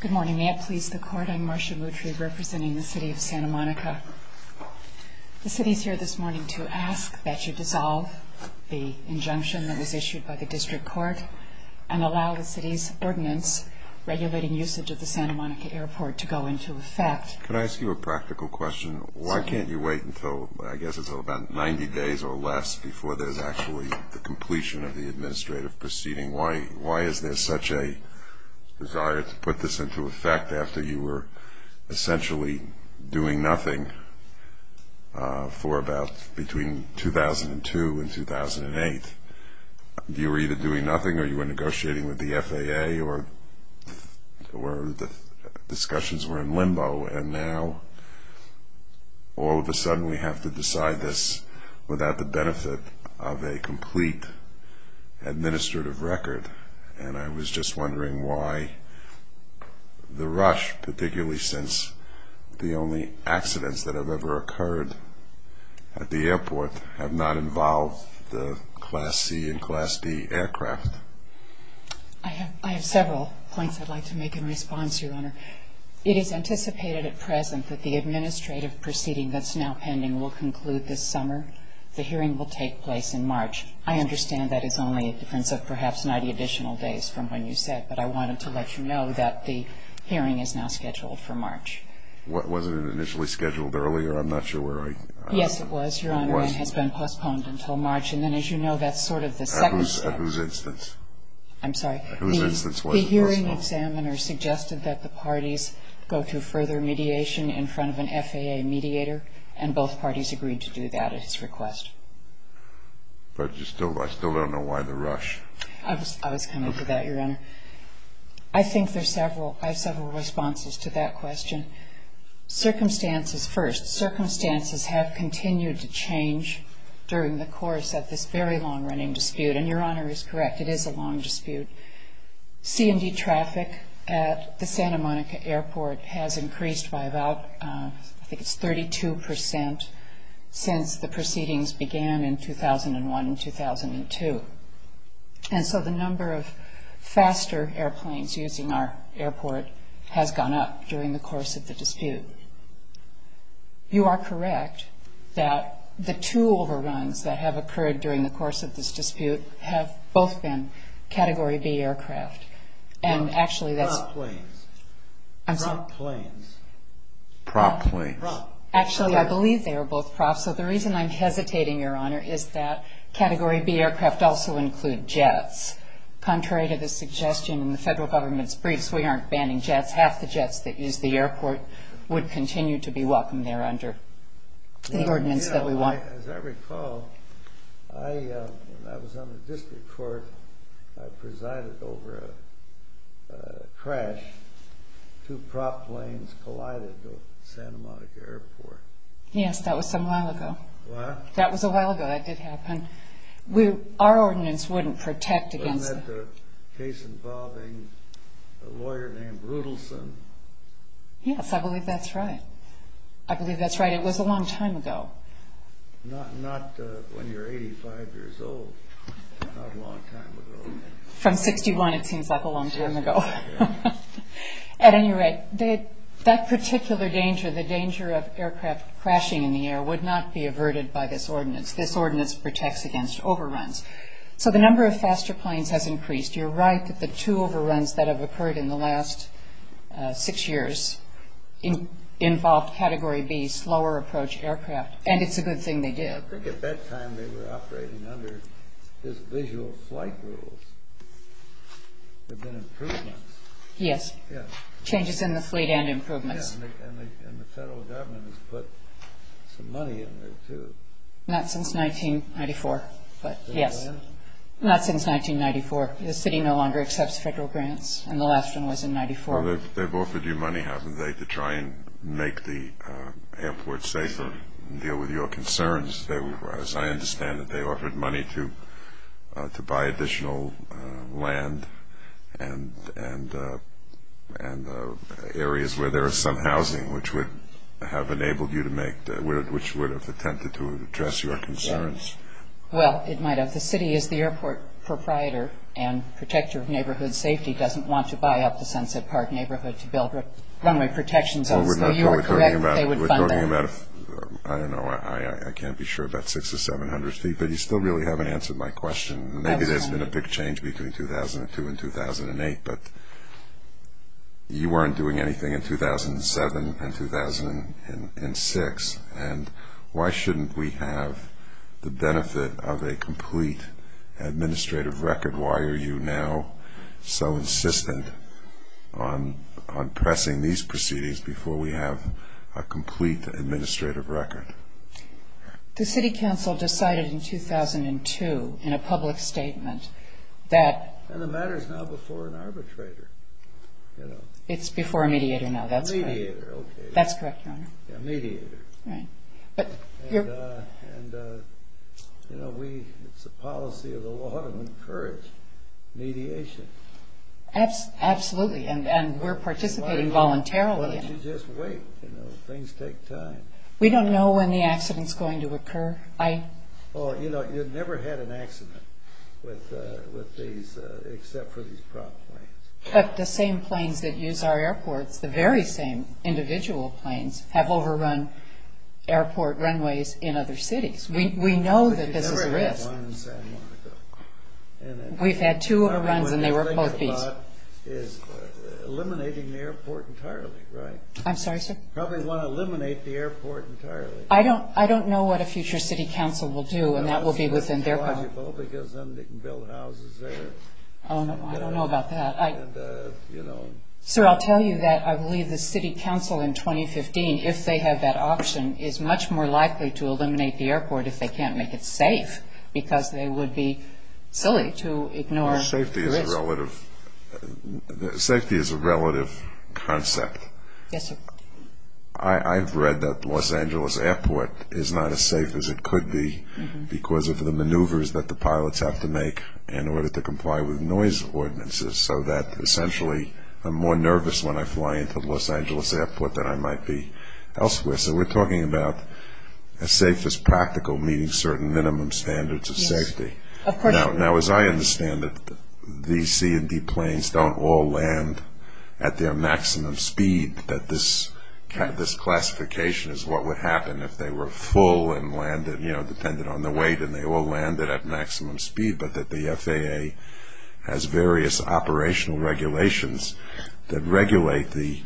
Good morning. May it please the Court, I'm Marcia Moutry representing the City of Santa Monica. The City is here this morning to ask that you dissolve the injunction that was issued by the District Court and allow the City's ordinance regulating usage of the Santa Monica Airport to go into effect. Can I ask you a practical question? Why can't you wait until, I guess it's about 90 days or less, before there's actually the completion of the administrative proceeding? Why is there such a desire to put this into effect after you were essentially doing nothing for about, between 2002 and 2008? You were either doing nothing or you were negotiating with the FAA or the discussions were in limbo and now all of a sudden we have to decide this without the benefit of a complete administrative record. And I was just wondering why the rush, particularly since the only accidents that have ever occurred at the airport have not involved the Class C and Class D aircraft. I have several points I'd like to make in response, Your Honor. It is anticipated at present that the administrative proceeding that's now pending will conclude this summer. The hearing will take place in March. I understand that is only a difference of perhaps 90 additional days from when you said, but I wanted to let you know that the hearing is now scheduled for March. Was it initially scheduled earlier? I'm not sure where I was. Yes, it was, Your Honor, and has been postponed until March. And then, as you know, that's sort of the second step. At whose instance? I'm sorry? At whose instance was it postponed? The hearing examiner suggested that the parties go through further mediation in front of an FAA mediator, and both parties agreed to do that at his request. But I still don't know why the rush. I was coming to that, Your Honor. I think there's several responses to that question. Circumstances first. Circumstances have continued to change during the course of this very long-running dispute, and Your Honor is correct, it is a long dispute. CMD traffic at the Santa Monica Airport has increased by about, I think it's 32 percent, since the proceedings began in 2001 and 2002. And so the number of faster airplanes using our airport has gone up during the course of the dispute. You are correct that the two overruns that have occurred during the course of this dispute have both been Category B aircraft. Prop planes. I'm sorry? Prop planes. Prop planes. Actually, I believe they were both props. So the reason I'm hesitating, Your Honor, is that Category B aircraft also include jets. Contrary to the suggestion in the federal government's briefs, we aren't banning jets. Half the jets that use the airport would continue to be welcome there under the ordinance that we want. As I recall, when I was on the district court, I presided over a crash. Two prop planes collided at Santa Monica Airport. Yes, that was some while ago. What? That was a while ago, that did happen. Our ordinance wouldn't protect against it. Wasn't that a case involving a lawyer named Rudelson? Yes, I believe that's right. I believe that's right. It was a long time ago. Not when you're 85 years old. Not a long time ago. From 61, it seems like a long time ago. At any rate, that particular danger, the danger of aircraft crashing in the air, would not be averted by this ordinance. This ordinance protects against overruns. So the number of faster planes has increased. You're right that the two overruns that have occurred in the last six years involved Category B, slower approach aircraft, and it's a good thing they did. I think at that time they were operating under this visual flight rules. There have been improvements. Yes. Changes in the fleet and improvements. And the federal government has put some money in there, too. Not since 1994, but yes. Not since 1994. The city no longer accepts federal grants, and the last one was in 1994. They've offered you money, haven't they, to try and make the airport safer and deal with your concerns. As I understand it, they offered money to buy additional land and areas where there is some housing which would have enabled you to make, which would have attempted to address your concerns. Well, it might have. The city is the airport proprietor and protector of neighborhood safety doesn't want to buy up the Sunset Park neighborhood to build runway protections. So you are correct that they would fund that. We're talking about, I don't know, I can't be sure, about 600 to 700 feet, but you still really haven't answered my question. Maybe there's been a big change between 2002 and 2008, but you weren't doing anything in 2007 and 2006, and why shouldn't we have the benefit of a complete administrative record? Why are you now so insistent on pressing these proceedings before we have a complete administrative record? The city council decided in 2002 in a public statement that... And the matter is now before an arbitrator, you know. It's before a mediator now, that's correct. A mediator, okay. That's correct, Your Honor. A mediator. Right. And, you know, it's the policy of the law to encourage mediation. Absolutely, and we're participating voluntarily. Why don't you just wait? You know, things take time. We don't know when the accident's going to occur. I... Well, you know, you've never had an accident with these, except for these prop planes. But the same planes that use our airports, the very same individual planes, have overrun airport runways in other cities. We know that this is a risk. But you've never had one in San Marcos. We've had two overruns, and they were both these. Probably what they're thinking about is eliminating the airport entirely, right? I'm sorry, sir? Probably want to eliminate the airport entirely. I don't know what a future city council will do, and that will be within their power. It's logical because then they can build houses there. Oh, no, I don't know about that. Sir, I'll tell you that I believe the city council in 2015, if they have that option, is much more likely to eliminate the airport if they can't make it safe because they would be silly to ignore the risk. Well, safety is a relative concept. Yes, sir. I've read that Los Angeles Airport is not as safe as it could be because of the maneuvers that the pilots have to make in order to comply with noise ordinances so that essentially I'm more nervous when I fly into Los Angeles Airport than I might be elsewhere. So we're talking about as safe as practical, meeting certain minimum standards of safety. Yes, of course. Now, as I understand it, these C and D planes don't all land at their maximum speed, that this classification is what would happen if they were full and landed, you know, depended on the weight, and they all landed at maximum speed, but that the FAA has various operational regulations that regulate the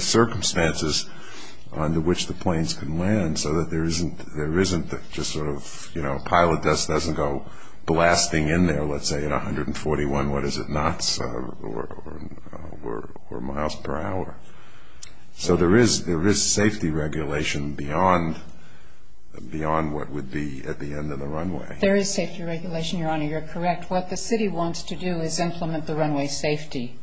circumstances under which the planes can land so that there isn't just sort of, you know, a pile of dust doesn't go blasting in there, let's say, at 141, what is it, knots or miles per hour. So there is safety regulation beyond what would be at the end of the runway. There is safety regulation, Your Honor. You're correct. What the city wants to do is implement the runway safety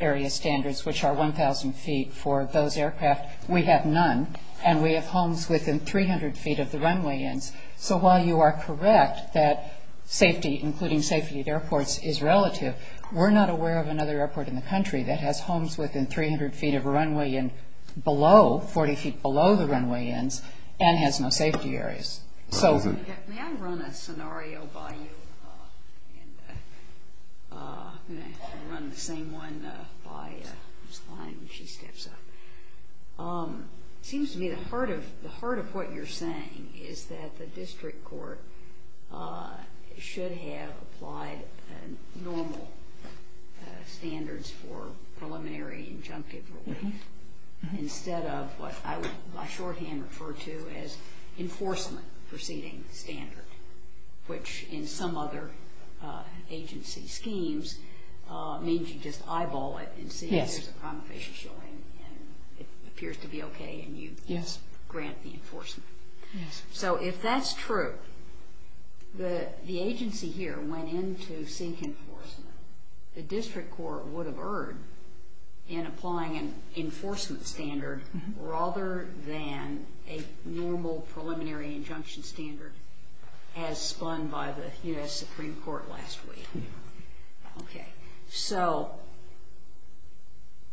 area standards, which are 1,000 feet for those aircraft. We have none, and we have homes within 300 feet of the runway ends. So while you are correct that safety, including safety at airports, is relative, we're not aware of another airport in the country that has homes within 300 feet of a runway and below, 40 feet below the runway ends, and has no safety areas. May I run a scenario by you? I'm going to run the same one by Ms. Klein when she steps up. It seems to me the heart of what you're saying is that the district court should have applied normal standards for preliminary injunctive relief instead of what I would by shorthand refer to as enforcement proceeding standard, which in some other agency schemes means you just eyeball it and see if there's a crime of facial showing, and it appears to be okay, and you grant the enforcement. So if that's true, the agency here went in to seek enforcement. The district court would have erred in applying an enforcement standard rather than a normal preliminary injunction standard as spun by the U.S. Supreme Court last week. Okay, so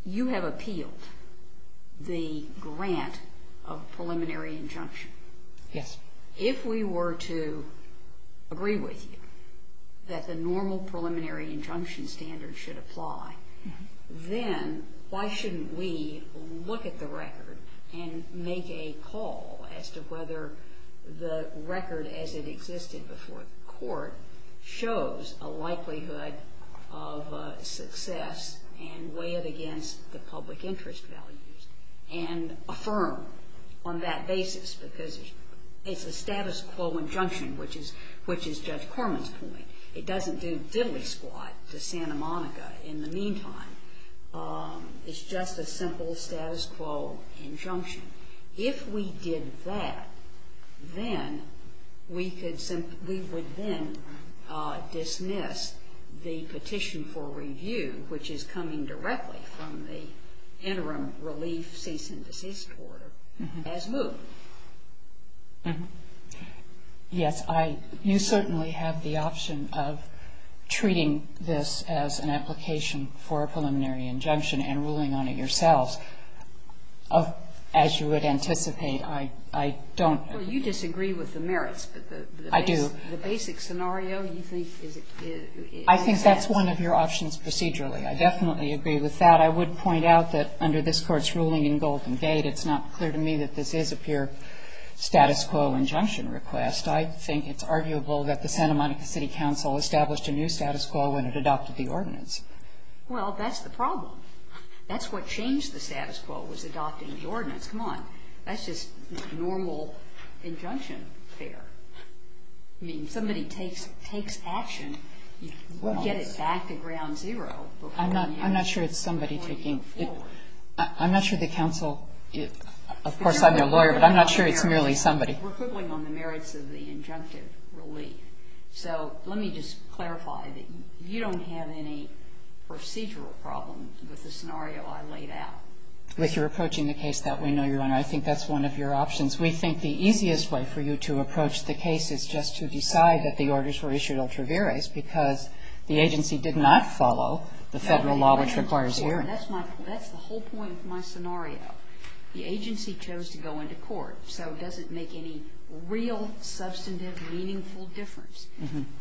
you have appealed the grant of preliminary injunction. Yes. If we were to agree with you that the normal preliminary injunction standard should apply, then why shouldn't we look at the record and make a call as to whether the record as it existed before the court shows a likelihood of success and weigh it against the public interest values and affirm on that basis because it's a status quo injunction, which is Judge Corman's point. It doesn't do diddly squat to Santa Monica in the meantime. It's just a simple status quo injunction. If we did that, then we would then dismiss the petition for review, which is coming directly from the interim relief cease and desist order, as moved. Yes, you certainly have the option of treating this as an application for a preliminary injunction and ruling on it yourselves. As you would anticipate, I don't know. Well, you disagree with the merits. I do. But the basic scenario, you think, is that? I think that's one of your options procedurally. I definitely agree with that. I would point out that under this Court's ruling in Golden Gate, it's not clear to me that this is a pure status quo injunction request. I think it's arguable that the Santa Monica City Council established a new status quo when it adopted the ordinance. Well, that's the problem. That's what changed the status quo was adopting the ordinance. Come on. That's just normal injunction fare. I mean, somebody takes action, you get it back to ground zero. I'm not sure it's somebody taking it. I'm not sure the council – of course, I'm your lawyer, but I'm not sure it's merely somebody. We're quibbling on the merits of the injunctive relief. So let me just clarify that you don't have any procedural problems with the scenario I laid out. If you're approaching the case that way, no, Your Honor, I think that's one of your options. We think the easiest way for you to approach the case is just to decide that the orders were issued ultra vires because the agency did not follow the federal law, which requires hearing. That's the whole point of my scenario. The agency chose to go into court. So it doesn't make any real, substantive, meaningful difference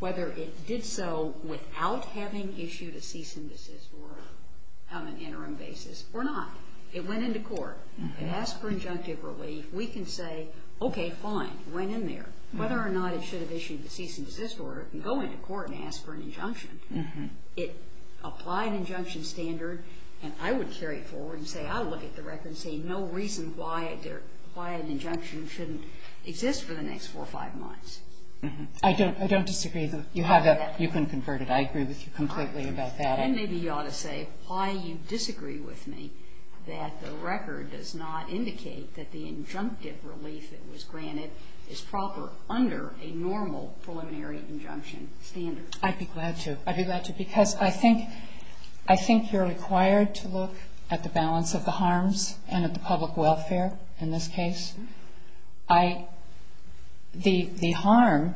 whether it did so without having issued a cease and desist order on an interim basis or not. It went into court. It asked for injunctive relief. We can say, okay, fine, it went in there. Whether or not it should have issued a cease and desist order, it can go into court and ask for an injunction. It applied an injunction standard, and I would carry it forward and say, no reason why an injunction shouldn't exist for the next four or five months. I don't disagree. You have that. You can convert it. I agree with you completely about that. And maybe you ought to say why you disagree with me that the record does not indicate that the injunctive relief that was granted is proper under a normal preliminary injunction standard. I'd be glad to. I'd be glad to because I think you're required to look at the balance of the harms and at the public welfare in this case. The harm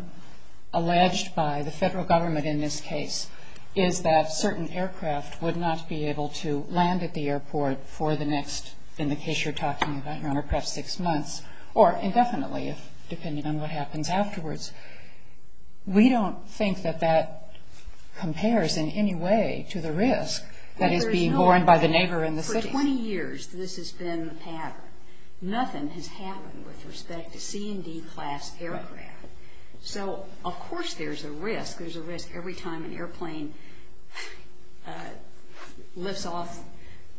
alleged by the federal government in this case is that certain aircraft would not be able to land at the airport for the next, in the case you're talking about, perhaps six months, or indefinitely depending on what happens afterwards. We don't think that that compares in any way to the risk that is being borne by the neighbor in the city. For 20 years, this has been the pattern. Nothing has happened with respect to C&D class aircraft. So, of course, there's a risk. There's a risk every time an airplane lifts off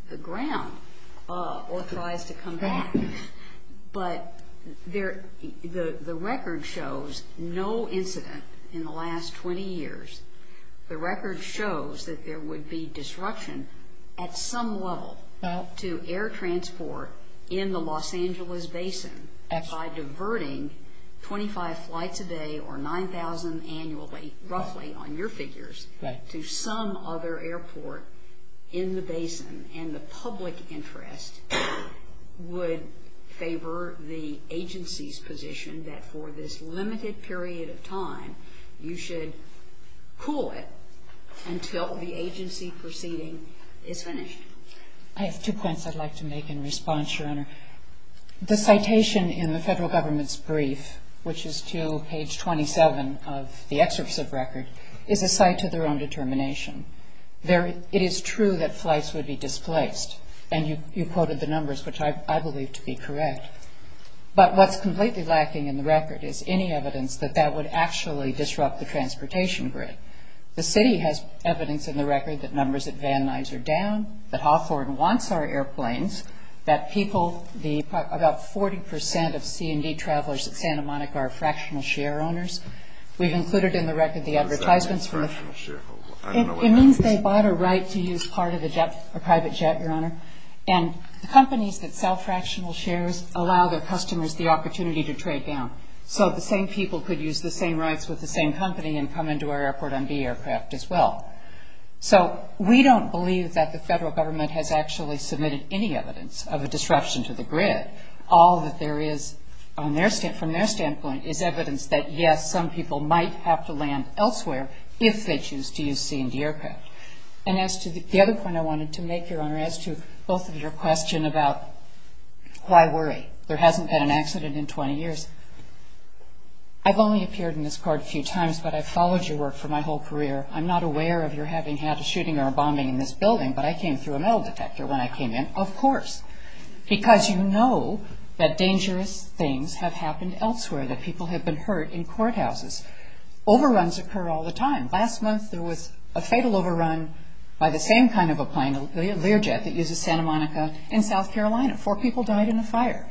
the ground or tries to come back. But the record shows no incident in the last 20 years. The record shows that there would be disruption at some level to air transport in the Los Angeles basin by diverting 25 flights a day or 9,000 annually, roughly on your figures, to some other airport in the basin. And the public interest would favor the agency's position that for this limited period of time, you should cool it until the agency proceeding is finished. I have two points I'd like to make in response, Your Honor. The citation in the federal government's brief, which is to page 27 of the excerpt of the record, is a cite to their own determination. It is true that flights would be displaced. And you quoted the numbers, which I believe to be correct. But what's completely lacking in the record is any evidence that that would actually disrupt the transportation grid. The city has evidence in the record that numbers at Van Nuys are down, that Hawthorne wants our airplanes, that people, about 40 percent of C&D travelers at Santa Monica are fractional share owners. It means they bought a right to use part of a private jet, Your Honor. And companies that sell fractional shares allow their customers the opportunity to trade down. So the same people could use the same rights with the same company and come into our airport on B aircraft as well. So we don't believe that the federal government has actually submitted any evidence of a disruption to the grid. All that there is from their standpoint is evidence that, yes, some people might have to land elsewhere if they choose to use C&D aircraft. And as to the other point I wanted to make, Your Honor, as to both of your questions about why worry. There hasn't been an accident in 20 years. I've only appeared in this court a few times, but I've followed your work for my whole career. I'm not aware of your having had a shooting or a bombing in this building, but I came through a metal detector when I came in, of course, because you know that dangerous things have happened elsewhere, that people have been hurt in courthouses. Overruns occur all the time. Last month there was a fatal overrun by the same kind of a plane, a Learjet, that uses Santa Monica in South Carolina. Four people died in a fire.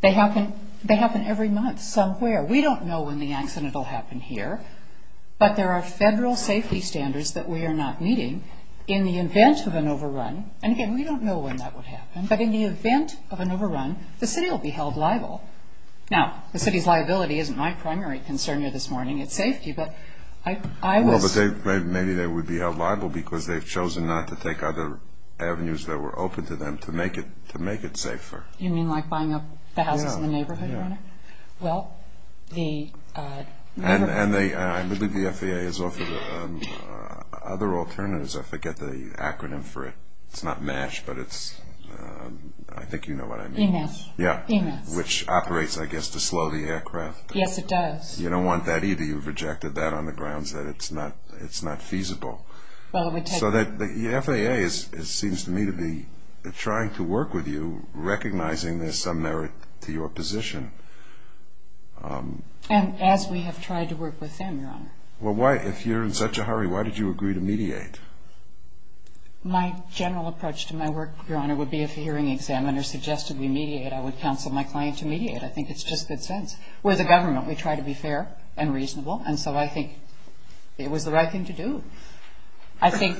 They happen every month somewhere. We don't know when the accident will happen here, but there are federal safety standards that we are not meeting. In the event of an overrun, and again, we don't know when that would happen, but in the event of an overrun, the city will be held liable. Now, the city's liability isn't my primary concern here this morning. It's safety, but I was... Well, but maybe they would be held liable because they've chosen not to take other avenues that were open to them to make it safer. You mean like buying up the houses in the neighborhood? Yeah. Well, the neighborhood... And I believe the FAA has offered other alternatives. I forget the acronym for it. EMAS. Yeah, which operates, I guess, to slow the aircraft. Yes, it does. You don't want that either. You've rejected that on the grounds that it's not feasible. So the FAA seems to me to be trying to work with you, recognizing there's some merit to your position. And as we have tried to work with them, Your Honor. Well, if you're in such a hurry, why did you agree to mediate? My general approach to my work, Your Honor, would be if a hearing examiner suggested we mediate, I would counsel my client to mediate. I think it's just good sense. We're the government. We try to be fair and reasonable, and so I think it was the right thing to do. I think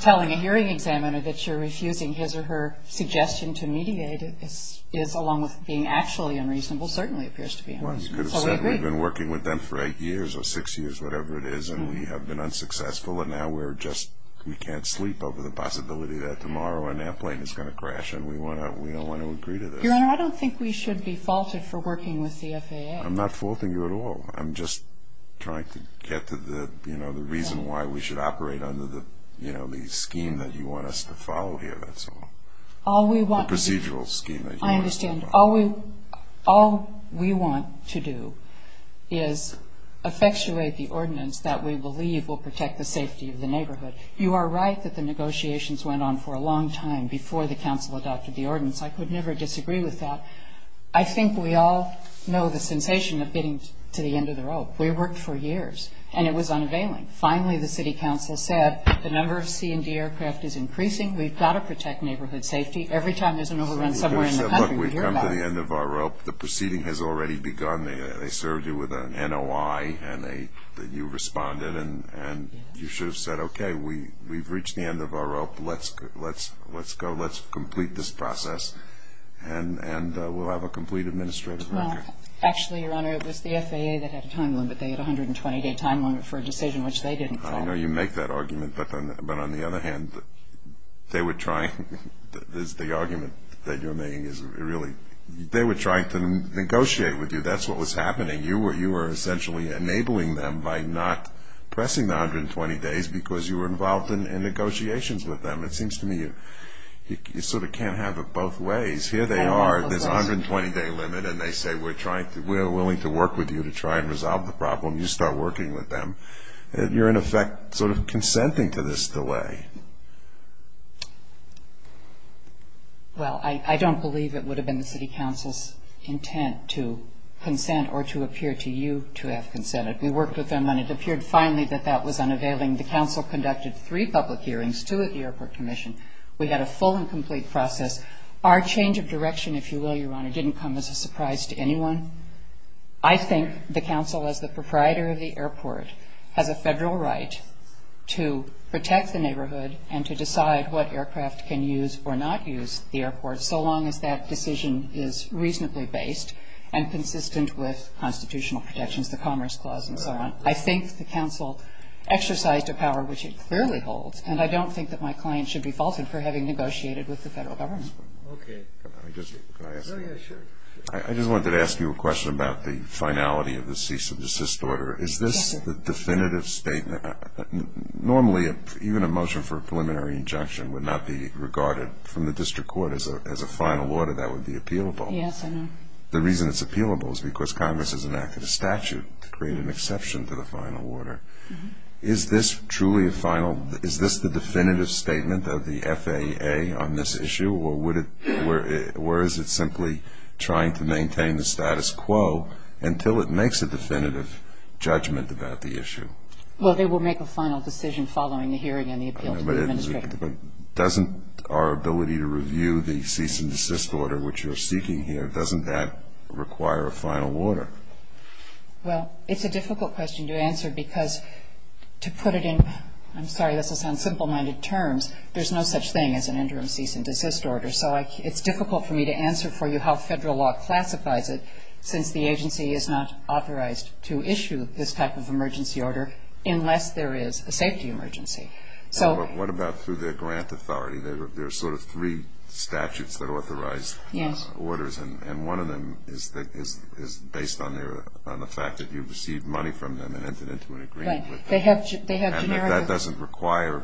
telling a hearing examiner that you're refusing his or her suggestion to mediate is, along with being actually unreasonable, certainly appears to be unreasonable. Well, you could have said we've been working with them for eight years or six years, whatever it is, and we have been unsuccessful and now we can't sleep over the possibility that tomorrow an airplane is going to crash and we don't want to agree to this. Your Honor, I don't think we should be faulted for working with the FAA. I'm not faulting you at all. I'm just trying to get to the reason why we should operate under the scheme that you want us to follow here, that's all. The procedural scheme that you want us to follow. All we want to do is effectuate the ordinance that we believe will protect the safety of the neighborhood. You are right that the negotiations went on for a long time before the council adopted the ordinance. I could never disagree with that. I think we all know the sensation of getting to the end of the rope. We worked for years, and it was unavailing. Finally, the city council said the number of C&D aircraft is increasing. We've got to protect neighborhood safety. Every time there's an overrun somewhere in the country, we hear about it. We've come to the end of our rope. The proceeding has already begun. They served you with an NOI, and you responded, and you should have said, okay, we've reached the end of our rope. Let's go. Let's complete this process, and we'll have a complete administrative record. Actually, Your Honor, it was the FAA that had a time limit. They had a 120-day time limit for a decision which they didn't follow. I know you make that argument, but on the other hand, they were trying. The argument that you're making is really they were trying to negotiate with you. That's what was happening. You were essentially enabling them by not pressing the 120 days because you were involved in negotiations with them. It seems to me you sort of can't have it both ways. Here they are. There's a 120-day limit, and they say we're willing to work with you to try and resolve the problem. You start working with them. You're, in effect, sort of consenting to this delay. Well, I don't believe it would have been the city council's intent to consent or to appear to you to have consented. We worked with them, and it appeared finally that that was unavailing. The council conducted three public hearings, two at the airport commission. We had a full and complete process. Our change of direction, if you will, Your Honor, didn't come as a surprise to anyone. I think the council, as the proprietor of the airport, has a federal right to protect the neighborhood and to decide what aircraft can use or not use the airport so long as that decision is reasonably based and consistent with constitutional protections, the Commerce Clause and so on. I think the council exercised a power which it clearly holds, and I don't think that my client should be faulted for having negotiated with the federal government. Okay. Can I ask you a question? Oh, yeah, sure. I just wanted to ask you a question about the finality of the cease and desist order. Is this the definitive statement? Normally, even a motion for a preliminary injunction would not be regarded from the district court as a final order. That would be appealable. Yes, I know. The reason it's appealable is because Congress has enacted a statute to create an exception to the final order. Is this the definitive statement of the FAA on this issue, or is it simply trying to maintain the status quo until it makes a definitive judgment about the issue? Well, they will make a final decision following the hearing and the appeal to the administrator. But doesn't our ability to review the cease and desist order, which you're seeking here, doesn't that require a final order? Well, it's a difficult question to answer because to put it in, I'm sorry, this is on simple-minded terms, there's no such thing as an interim cease and desist order. So it's difficult for me to answer for you how federal law classifies it, since the agency is not authorized to issue this type of emergency order unless there is a safety emergency. What about through their grant authority? There are sort of three statutes that authorize orders, and one of them is based on the fact that you've received money from them and entered into an agreement with them. And that doesn't require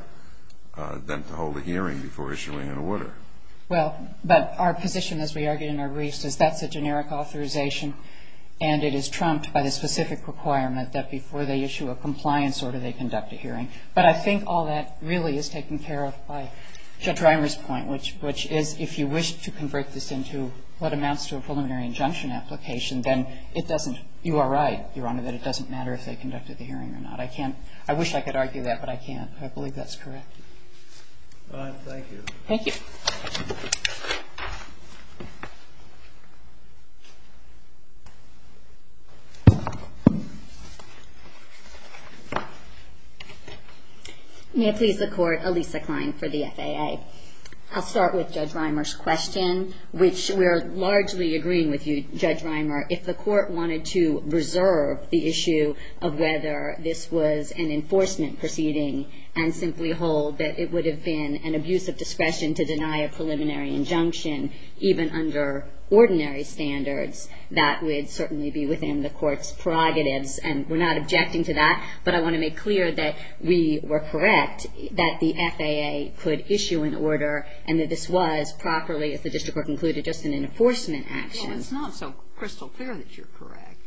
them to hold a hearing before issuing an order. Well, but our position, as we argued in our briefs, is that's a generic authorization, and it is trumped by the specific requirement that before they issue a compliance order, they conduct a hearing. But I think all that really is taken care of by Drimer's point, which is if you wish to convert this into what amounts to a preliminary injunction application, then it doesn't, you are right, Your Honor, that it doesn't matter if they conducted the hearing or not. I can't, I wish I could argue that, but I can't. I believe that's correct. All right. Thank you. Thank you. May it please the Court, Elisa Klein for the FAA. I'll start with Judge Rimer's question, which we're largely agreeing with you, Judge Rimer. If the Court wanted to reserve the issue of whether this was an enforcement proceeding and simply hold that it would have been an abuse of discretion to deny a preliminary injunction, even under ordinary standards, that would certainly be within the Court's prerogatives. And we're not objecting to that, but I want to make clear that we were correct, that the FAA could issue an order and that this was properly, if the district were concluded, just an enforcement action. Well, it's not so crystal clear that you're correct.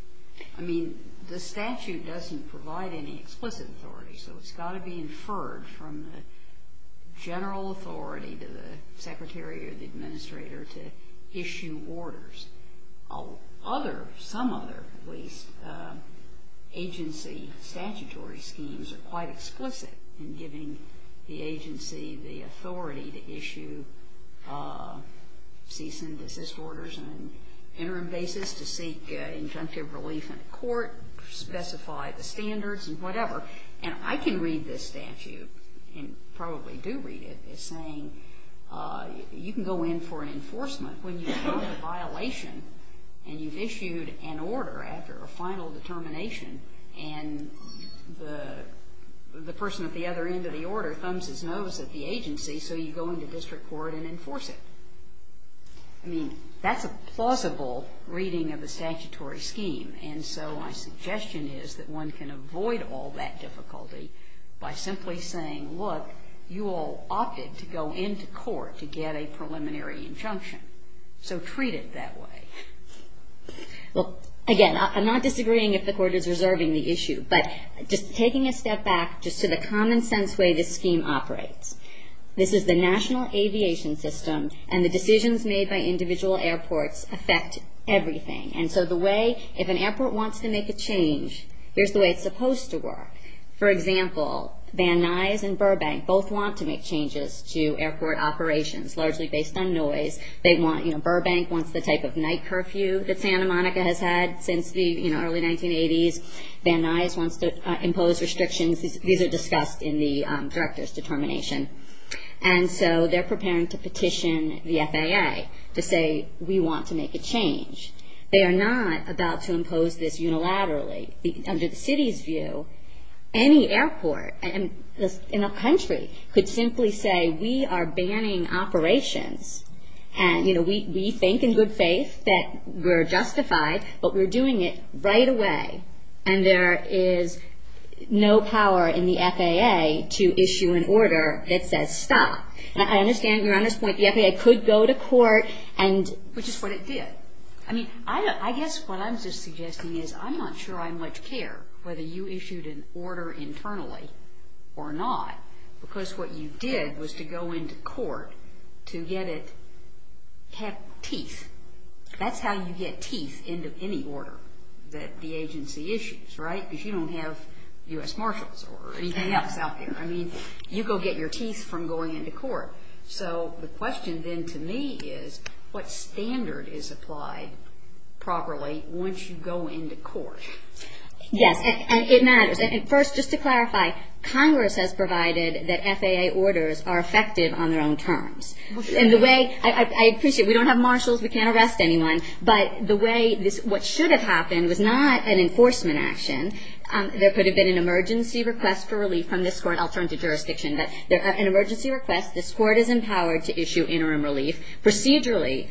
I mean, the statute doesn't provide any explicit authority, so it's got to be inferred from the general authority to the secretary or the administrator to issue orders. Other, some other police agency statutory schemes are quite explicit in giving the agency the authority to issue cease and desist orders on an interim basis to seek injunctive relief in a court, specify the standards and whatever. And I can read this statute, and probably do read it, as saying you can go in for an enforcement when you've done a violation and you've issued an order after a final determination and the person at the other end of the order thumbs his nose at the agency, so you go into district court and enforce it. I mean, that's a plausible reading of a statutory scheme, and so my suggestion is that one can avoid all that difficulty by simply saying, well, look, you all opted to go into court to get a preliminary injunction, so treat it that way. Well, again, I'm not disagreeing if the court is reserving the issue, but just taking a step back just to the common sense way this scheme operates, this is the National Aviation System, and the decisions made by individual airports affect everything. And so the way, if an airport wants to make a change, here's the way it's supposed to work. For example, Van Nuys and Burbank both want to make changes to airport operations, largely based on noise. Burbank wants the type of night curfew that Santa Monica has had since the early 1980s. Van Nuys wants to impose restrictions. These are discussed in the director's determination. And so they're preparing to petition the FAA to say, we want to make a change. They are not about to impose this unilaterally. Under the city's view, any airport in a country could simply say, we are banning operations, and, you know, we think in good faith that we're justified, but we're doing it right away, and there is no power in the FAA to issue an order that says stop. I understand your earnest point. The FAA could go to court and ‑‑ Which is what it did. I guess what I'm just suggesting is I'm not sure I much care whether you issued an order internally or not, because what you did was to go into court to get it ‑‑ have teeth. That's how you get teeth into any order that the agency issues, right, because you don't have U.S. Marshals or anything else out there. I mean, you go get your teeth from going into court. So the question then to me is, what standard is applied properly once you go into court? Yes, and it matters. First, just to clarify, Congress has provided that FAA orders are effective on their own terms. And the way ‑‑ I appreciate we don't have marshals, we can't arrest anyone, but the way this ‑‑ what should have happened was not an enforcement action. There could have been an emergency request for relief from this court. I'll turn to jurisdiction. An emergency request, this court is empowered to issue interim relief. Procedurally,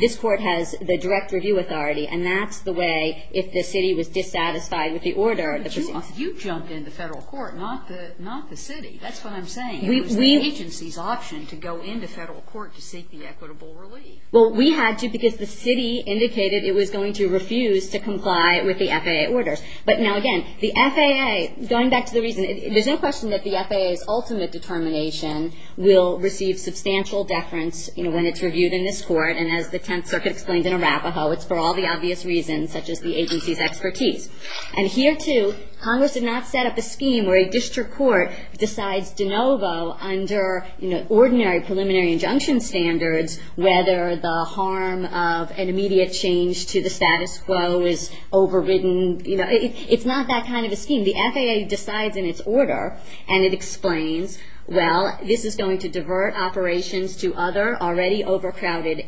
this court has the direct review authority, and that's the way if the city was dissatisfied with the order. But you jumped into federal court, not the city. That's what I'm saying. It was the agency's option to go into federal court to seek the equitable relief. Well, we had to because the city indicated it was going to refuse to comply with the FAA orders. But now, again, the FAA, going back to the reason, there's no question that the FAA's ultimate determination will receive substantial deference when it's reviewed in this court. And as the Tenth Circuit explained in Arapaho, it's for all the obvious reasons such as the agency's expertise. And here, too, Congress did not set up a scheme where a district court decides de novo under ordinary preliminary injunction standards whether the harm of an immediate change to the status quo is overridden. It's not that kind of a scheme. The FAA decides in its order, and it explains, well, this is going to divert operations to other already overcrowded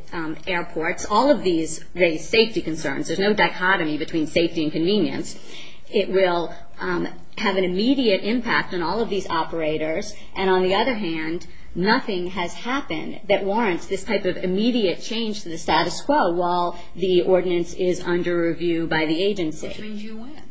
airports. All of these raise safety concerns. There's no dichotomy between safety and convenience. It will have an immediate impact on all of these operators. And on the other hand, nothing has happened that warrants this type of immediate change to the status quo while the ordinance is under review by the agency. Which means you win.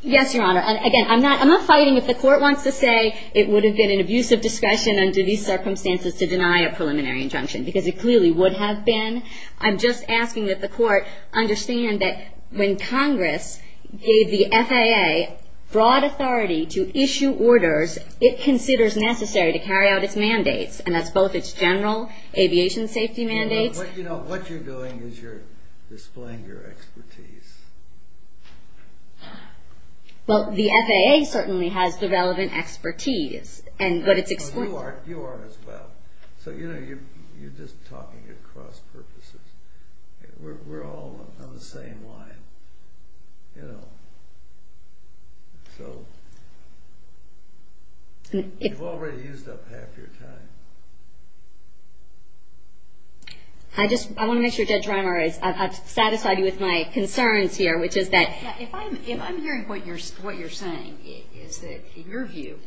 Yes, Your Honor. Again, I'm not fighting if the court wants to say it would have been an abusive discretion under these circumstances to deny a preliminary injunction, because it clearly would have been. I'm just asking that the court understand that when Congress gave the FAA broad authority to issue orders, it considers necessary to carry out its mandates, and that's both its general aviation safety mandates. But, you know, what you're doing is you're displaying your expertise. Well, the FAA certainly has the relevant expertise. But you are as well. So, you know, you're just talking at cross purposes. We're all on the same line, you know. You've already used up half your time. I just want to make sure Judge Reimer is satisfied with my concerns here, which is that If I'm hearing what you're saying, is that in your view,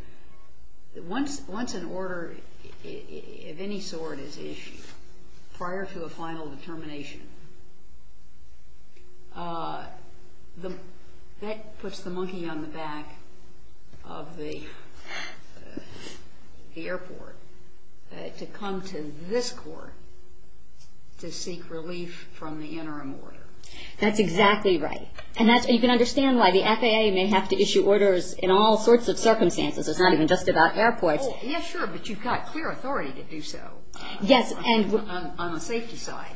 once an order of any sort is issued prior to a final determination, that puts the monkey on the back of the airport to come to this court to seek relief from the interim order. That's exactly right. And you can understand why the FAA may have to issue orders in all sorts of circumstances. It's not even just about airports. Oh, yeah, sure, but you've got clear authority to do so on the safety side.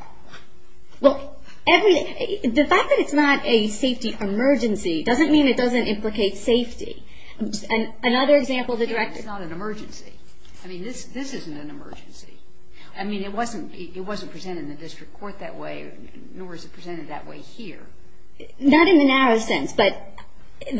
Well, the fact that it's not a safety emergency doesn't mean it doesn't implicate safety. Another example, the director... It's not an emergency. I mean, this isn't an emergency. I mean, it wasn't presented in the district court that way, nor is it presented that way here. Not in the narrow sense, but in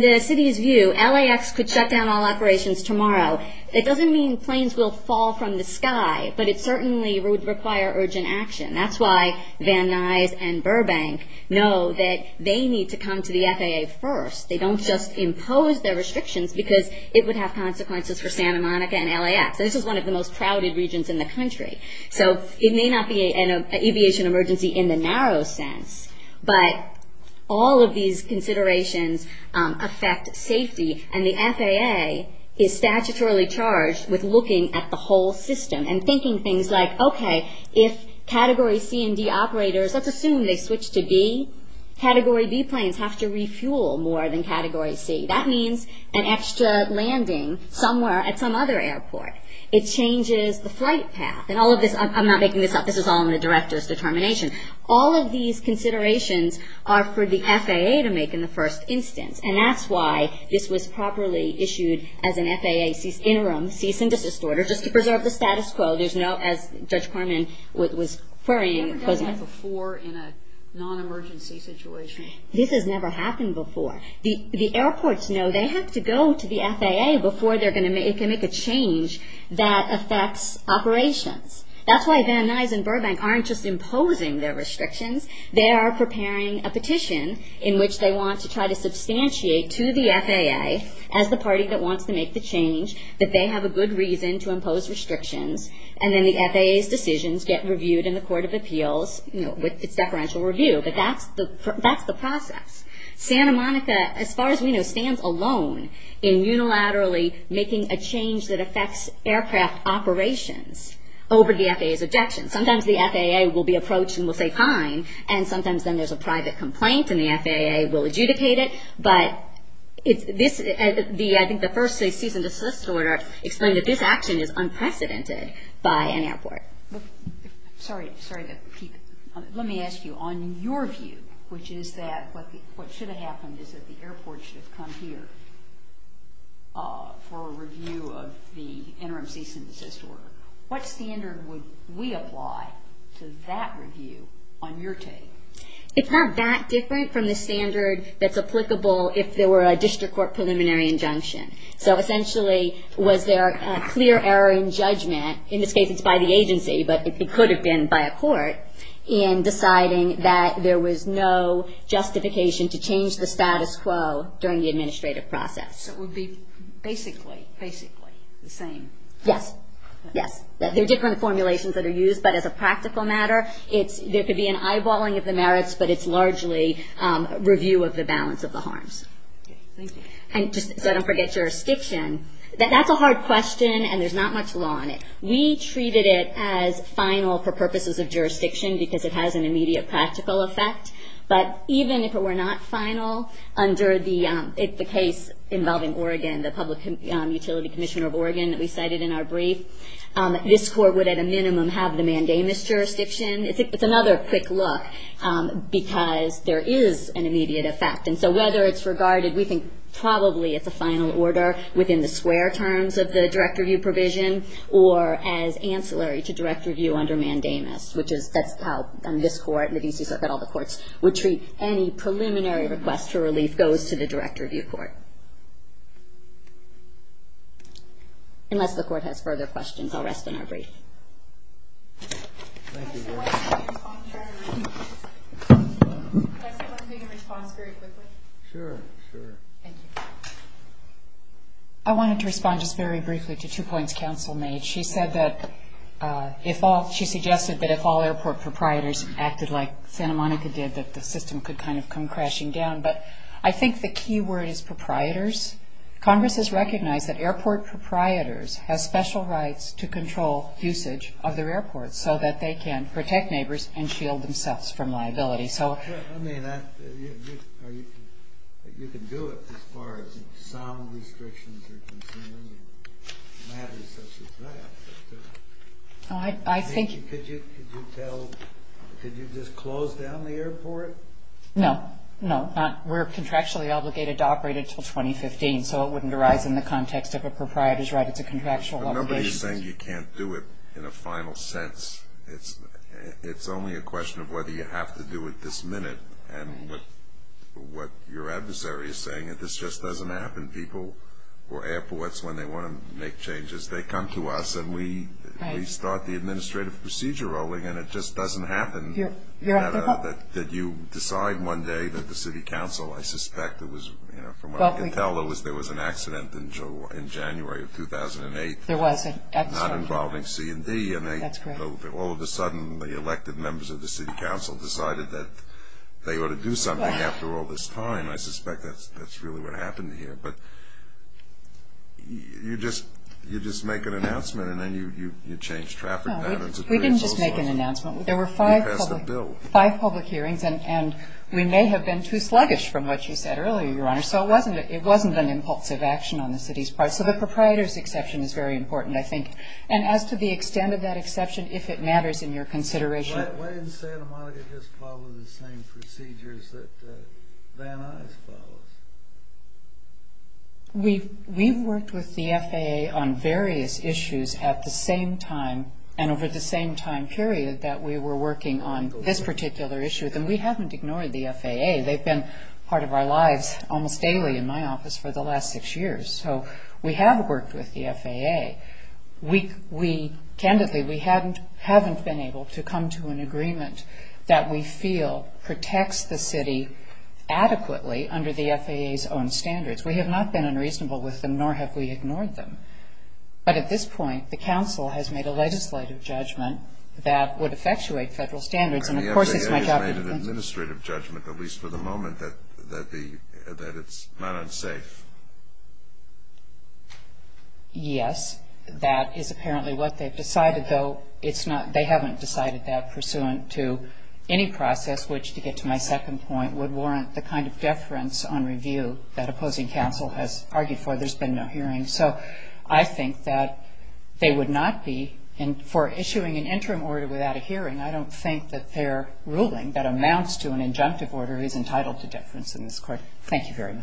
the city's view, LAX could shut down all operations tomorrow. It doesn't mean planes will fall from the sky, but it certainly would require urgent action. That's why Van Nuys and Burbank know that they need to come to the FAA first. They don't just impose their restrictions because it would have consequences for Santa Monica and LAX. This is one of the most crowded regions in the country. So it may not be an aviation emergency in the narrow sense, but all of these considerations affect safety, and the FAA is statutorily charged with looking at the whole system and thinking things like, okay, if Category C and D operators, let's assume they switch to B, Category B planes have to refuel more than Category C. That means an extra landing somewhere at some other airport. It changes the flight path, and all of this... I'm not making this up. This is all in the director's determination. All of these considerations are for the FAA to make in the first instance, and that's why this was properly issued as an FAA interim cease and desist order, just to preserve the status quo. There's no, as Judge Corman was querying... You've never done that before in a non-emergency situation? This has never happened before. The airports know they have to go to the FAA before they can make a change that affects operations. That's why Van Nuys and Burbank aren't just imposing their restrictions. They are preparing a petition in which they want to try to substantiate to the FAA as the party that wants to make the change that they have a good reason to impose restrictions, and then the FAA's decisions get reviewed in the Court of Appeals with its deferential review. But that's the process. Santa Monica, as far as we know, stands alone in unilaterally making a change that affects aircraft operations over the FAA's objections. Sometimes the FAA will be approached and will say fine, and sometimes then there's a private complaint and the FAA will adjudicate it. But I think the first cease and desist order explained that this action is unprecedented by an airport. Sorry to keep... Let me ask you, on your view, which is that what should have happened is that the airport should have come here for a review of the interim cease and desist order, what standard would we apply to that review on your take? It's not that different from the standard that's applicable if there were a district court preliminary injunction. So essentially was there a clear error in judgment, in this case it's by the agency, but it could have been by a court, in deciding that there was no justification to change the status quo during the administrative process. So it would be basically, basically the same. Yes, yes. There are different formulations that are used, but as a practical matter, there could be an eyeballing of the merits, but it's largely review of the balance of the harms. And just so I don't forget jurisdiction, that's a hard question and there's not much law on it. We treated it as final for purposes of jurisdiction because it has an immediate practical effect, but even if it were not final under the case involving Oregon, the Public Utility Commissioner of Oregon that we cited in our brief, this court would at a minimum have the mandamus jurisdiction. It's another quick look because there is an immediate effect. And so whether it's regarded, we think probably it's a final order within the square terms of the direct review provision, or as ancillary to direct review under mandamus, which is that's how this court and the DC Circuit, all the courts, would treat any preliminary request for relief goes to the direct review court. Unless the court has further questions, I'll rest in our brief. I wanted to respond just very briefly to two points counsel made. She said that if all, she suggested that if all airport proprietors acted like Santa Monica did, that the system could kind of come crashing down. But I think the key word is proprietors. Congress has recognized that airport proprietors have special rights to control usage of their airports so that they can protect neighbors and shield themselves from liability. I mean, you can do it as far as sound restrictions are concerned and matters such as that. Could you just close down the airport? No. No, we're contractually obligated to operate it until 2015, so it wouldn't arise in the context of a proprietor's right. It's a contractual obligation. I remember you saying you can't do it in a final sense. It's only a question of whether you have to do it this minute. And what your adversary is saying is this just doesn't happen. People or airports, when they want to make changes, they come to us, and we start the administrative procedure rolling, and it just doesn't happen. Did you decide one day that the city council, I suspect it was, from what we can tell, there was an accident in January of 2008. There was an accident. Not involving C&D. That's correct. All of a sudden, the elected members of the city council decided that they ought to do something after all this time. I suspect that's really what happened here. But you just make an announcement, and then you change traffic patterns. We didn't just make an announcement. There were five public hearings, and we may have been too sluggish from what you said earlier, Your Honor. So it wasn't an impulsive action on the city's part. So the proprietor's exception is very important, I think. And as to the extent of that exception, if it matters in your consideration. Why didn't Santa Monica just follow the same procedures that Van Nuys follows? We've worked with the FAA on various issues at the same time and over the same time period that we were working on this particular issue, and we haven't ignored the FAA. They've been part of our lives almost daily in my office for the last six years. So we have worked with the FAA. Candidly, we haven't been able to come to an agreement that we feel protects the city adequately under the FAA's own standards. We have not been unreasonable with them, nor have we ignored them. But at this point, the council has made a legislative judgment that would effectuate federal standards. And, of course, it's my job to convince them. at least for the moment, that it's not unsafe. Yes, that is apparently what they've decided, though they haven't decided that pursuant to any process, which, to get to my second point, would warrant the kind of deference on review that opposing council has argued for. There's been no hearing. So I think that they would not be, for issuing an interim order without a hearing, I don't think that their ruling that amounts to an injunctive order is entitled to deference in this court. Thank you very much.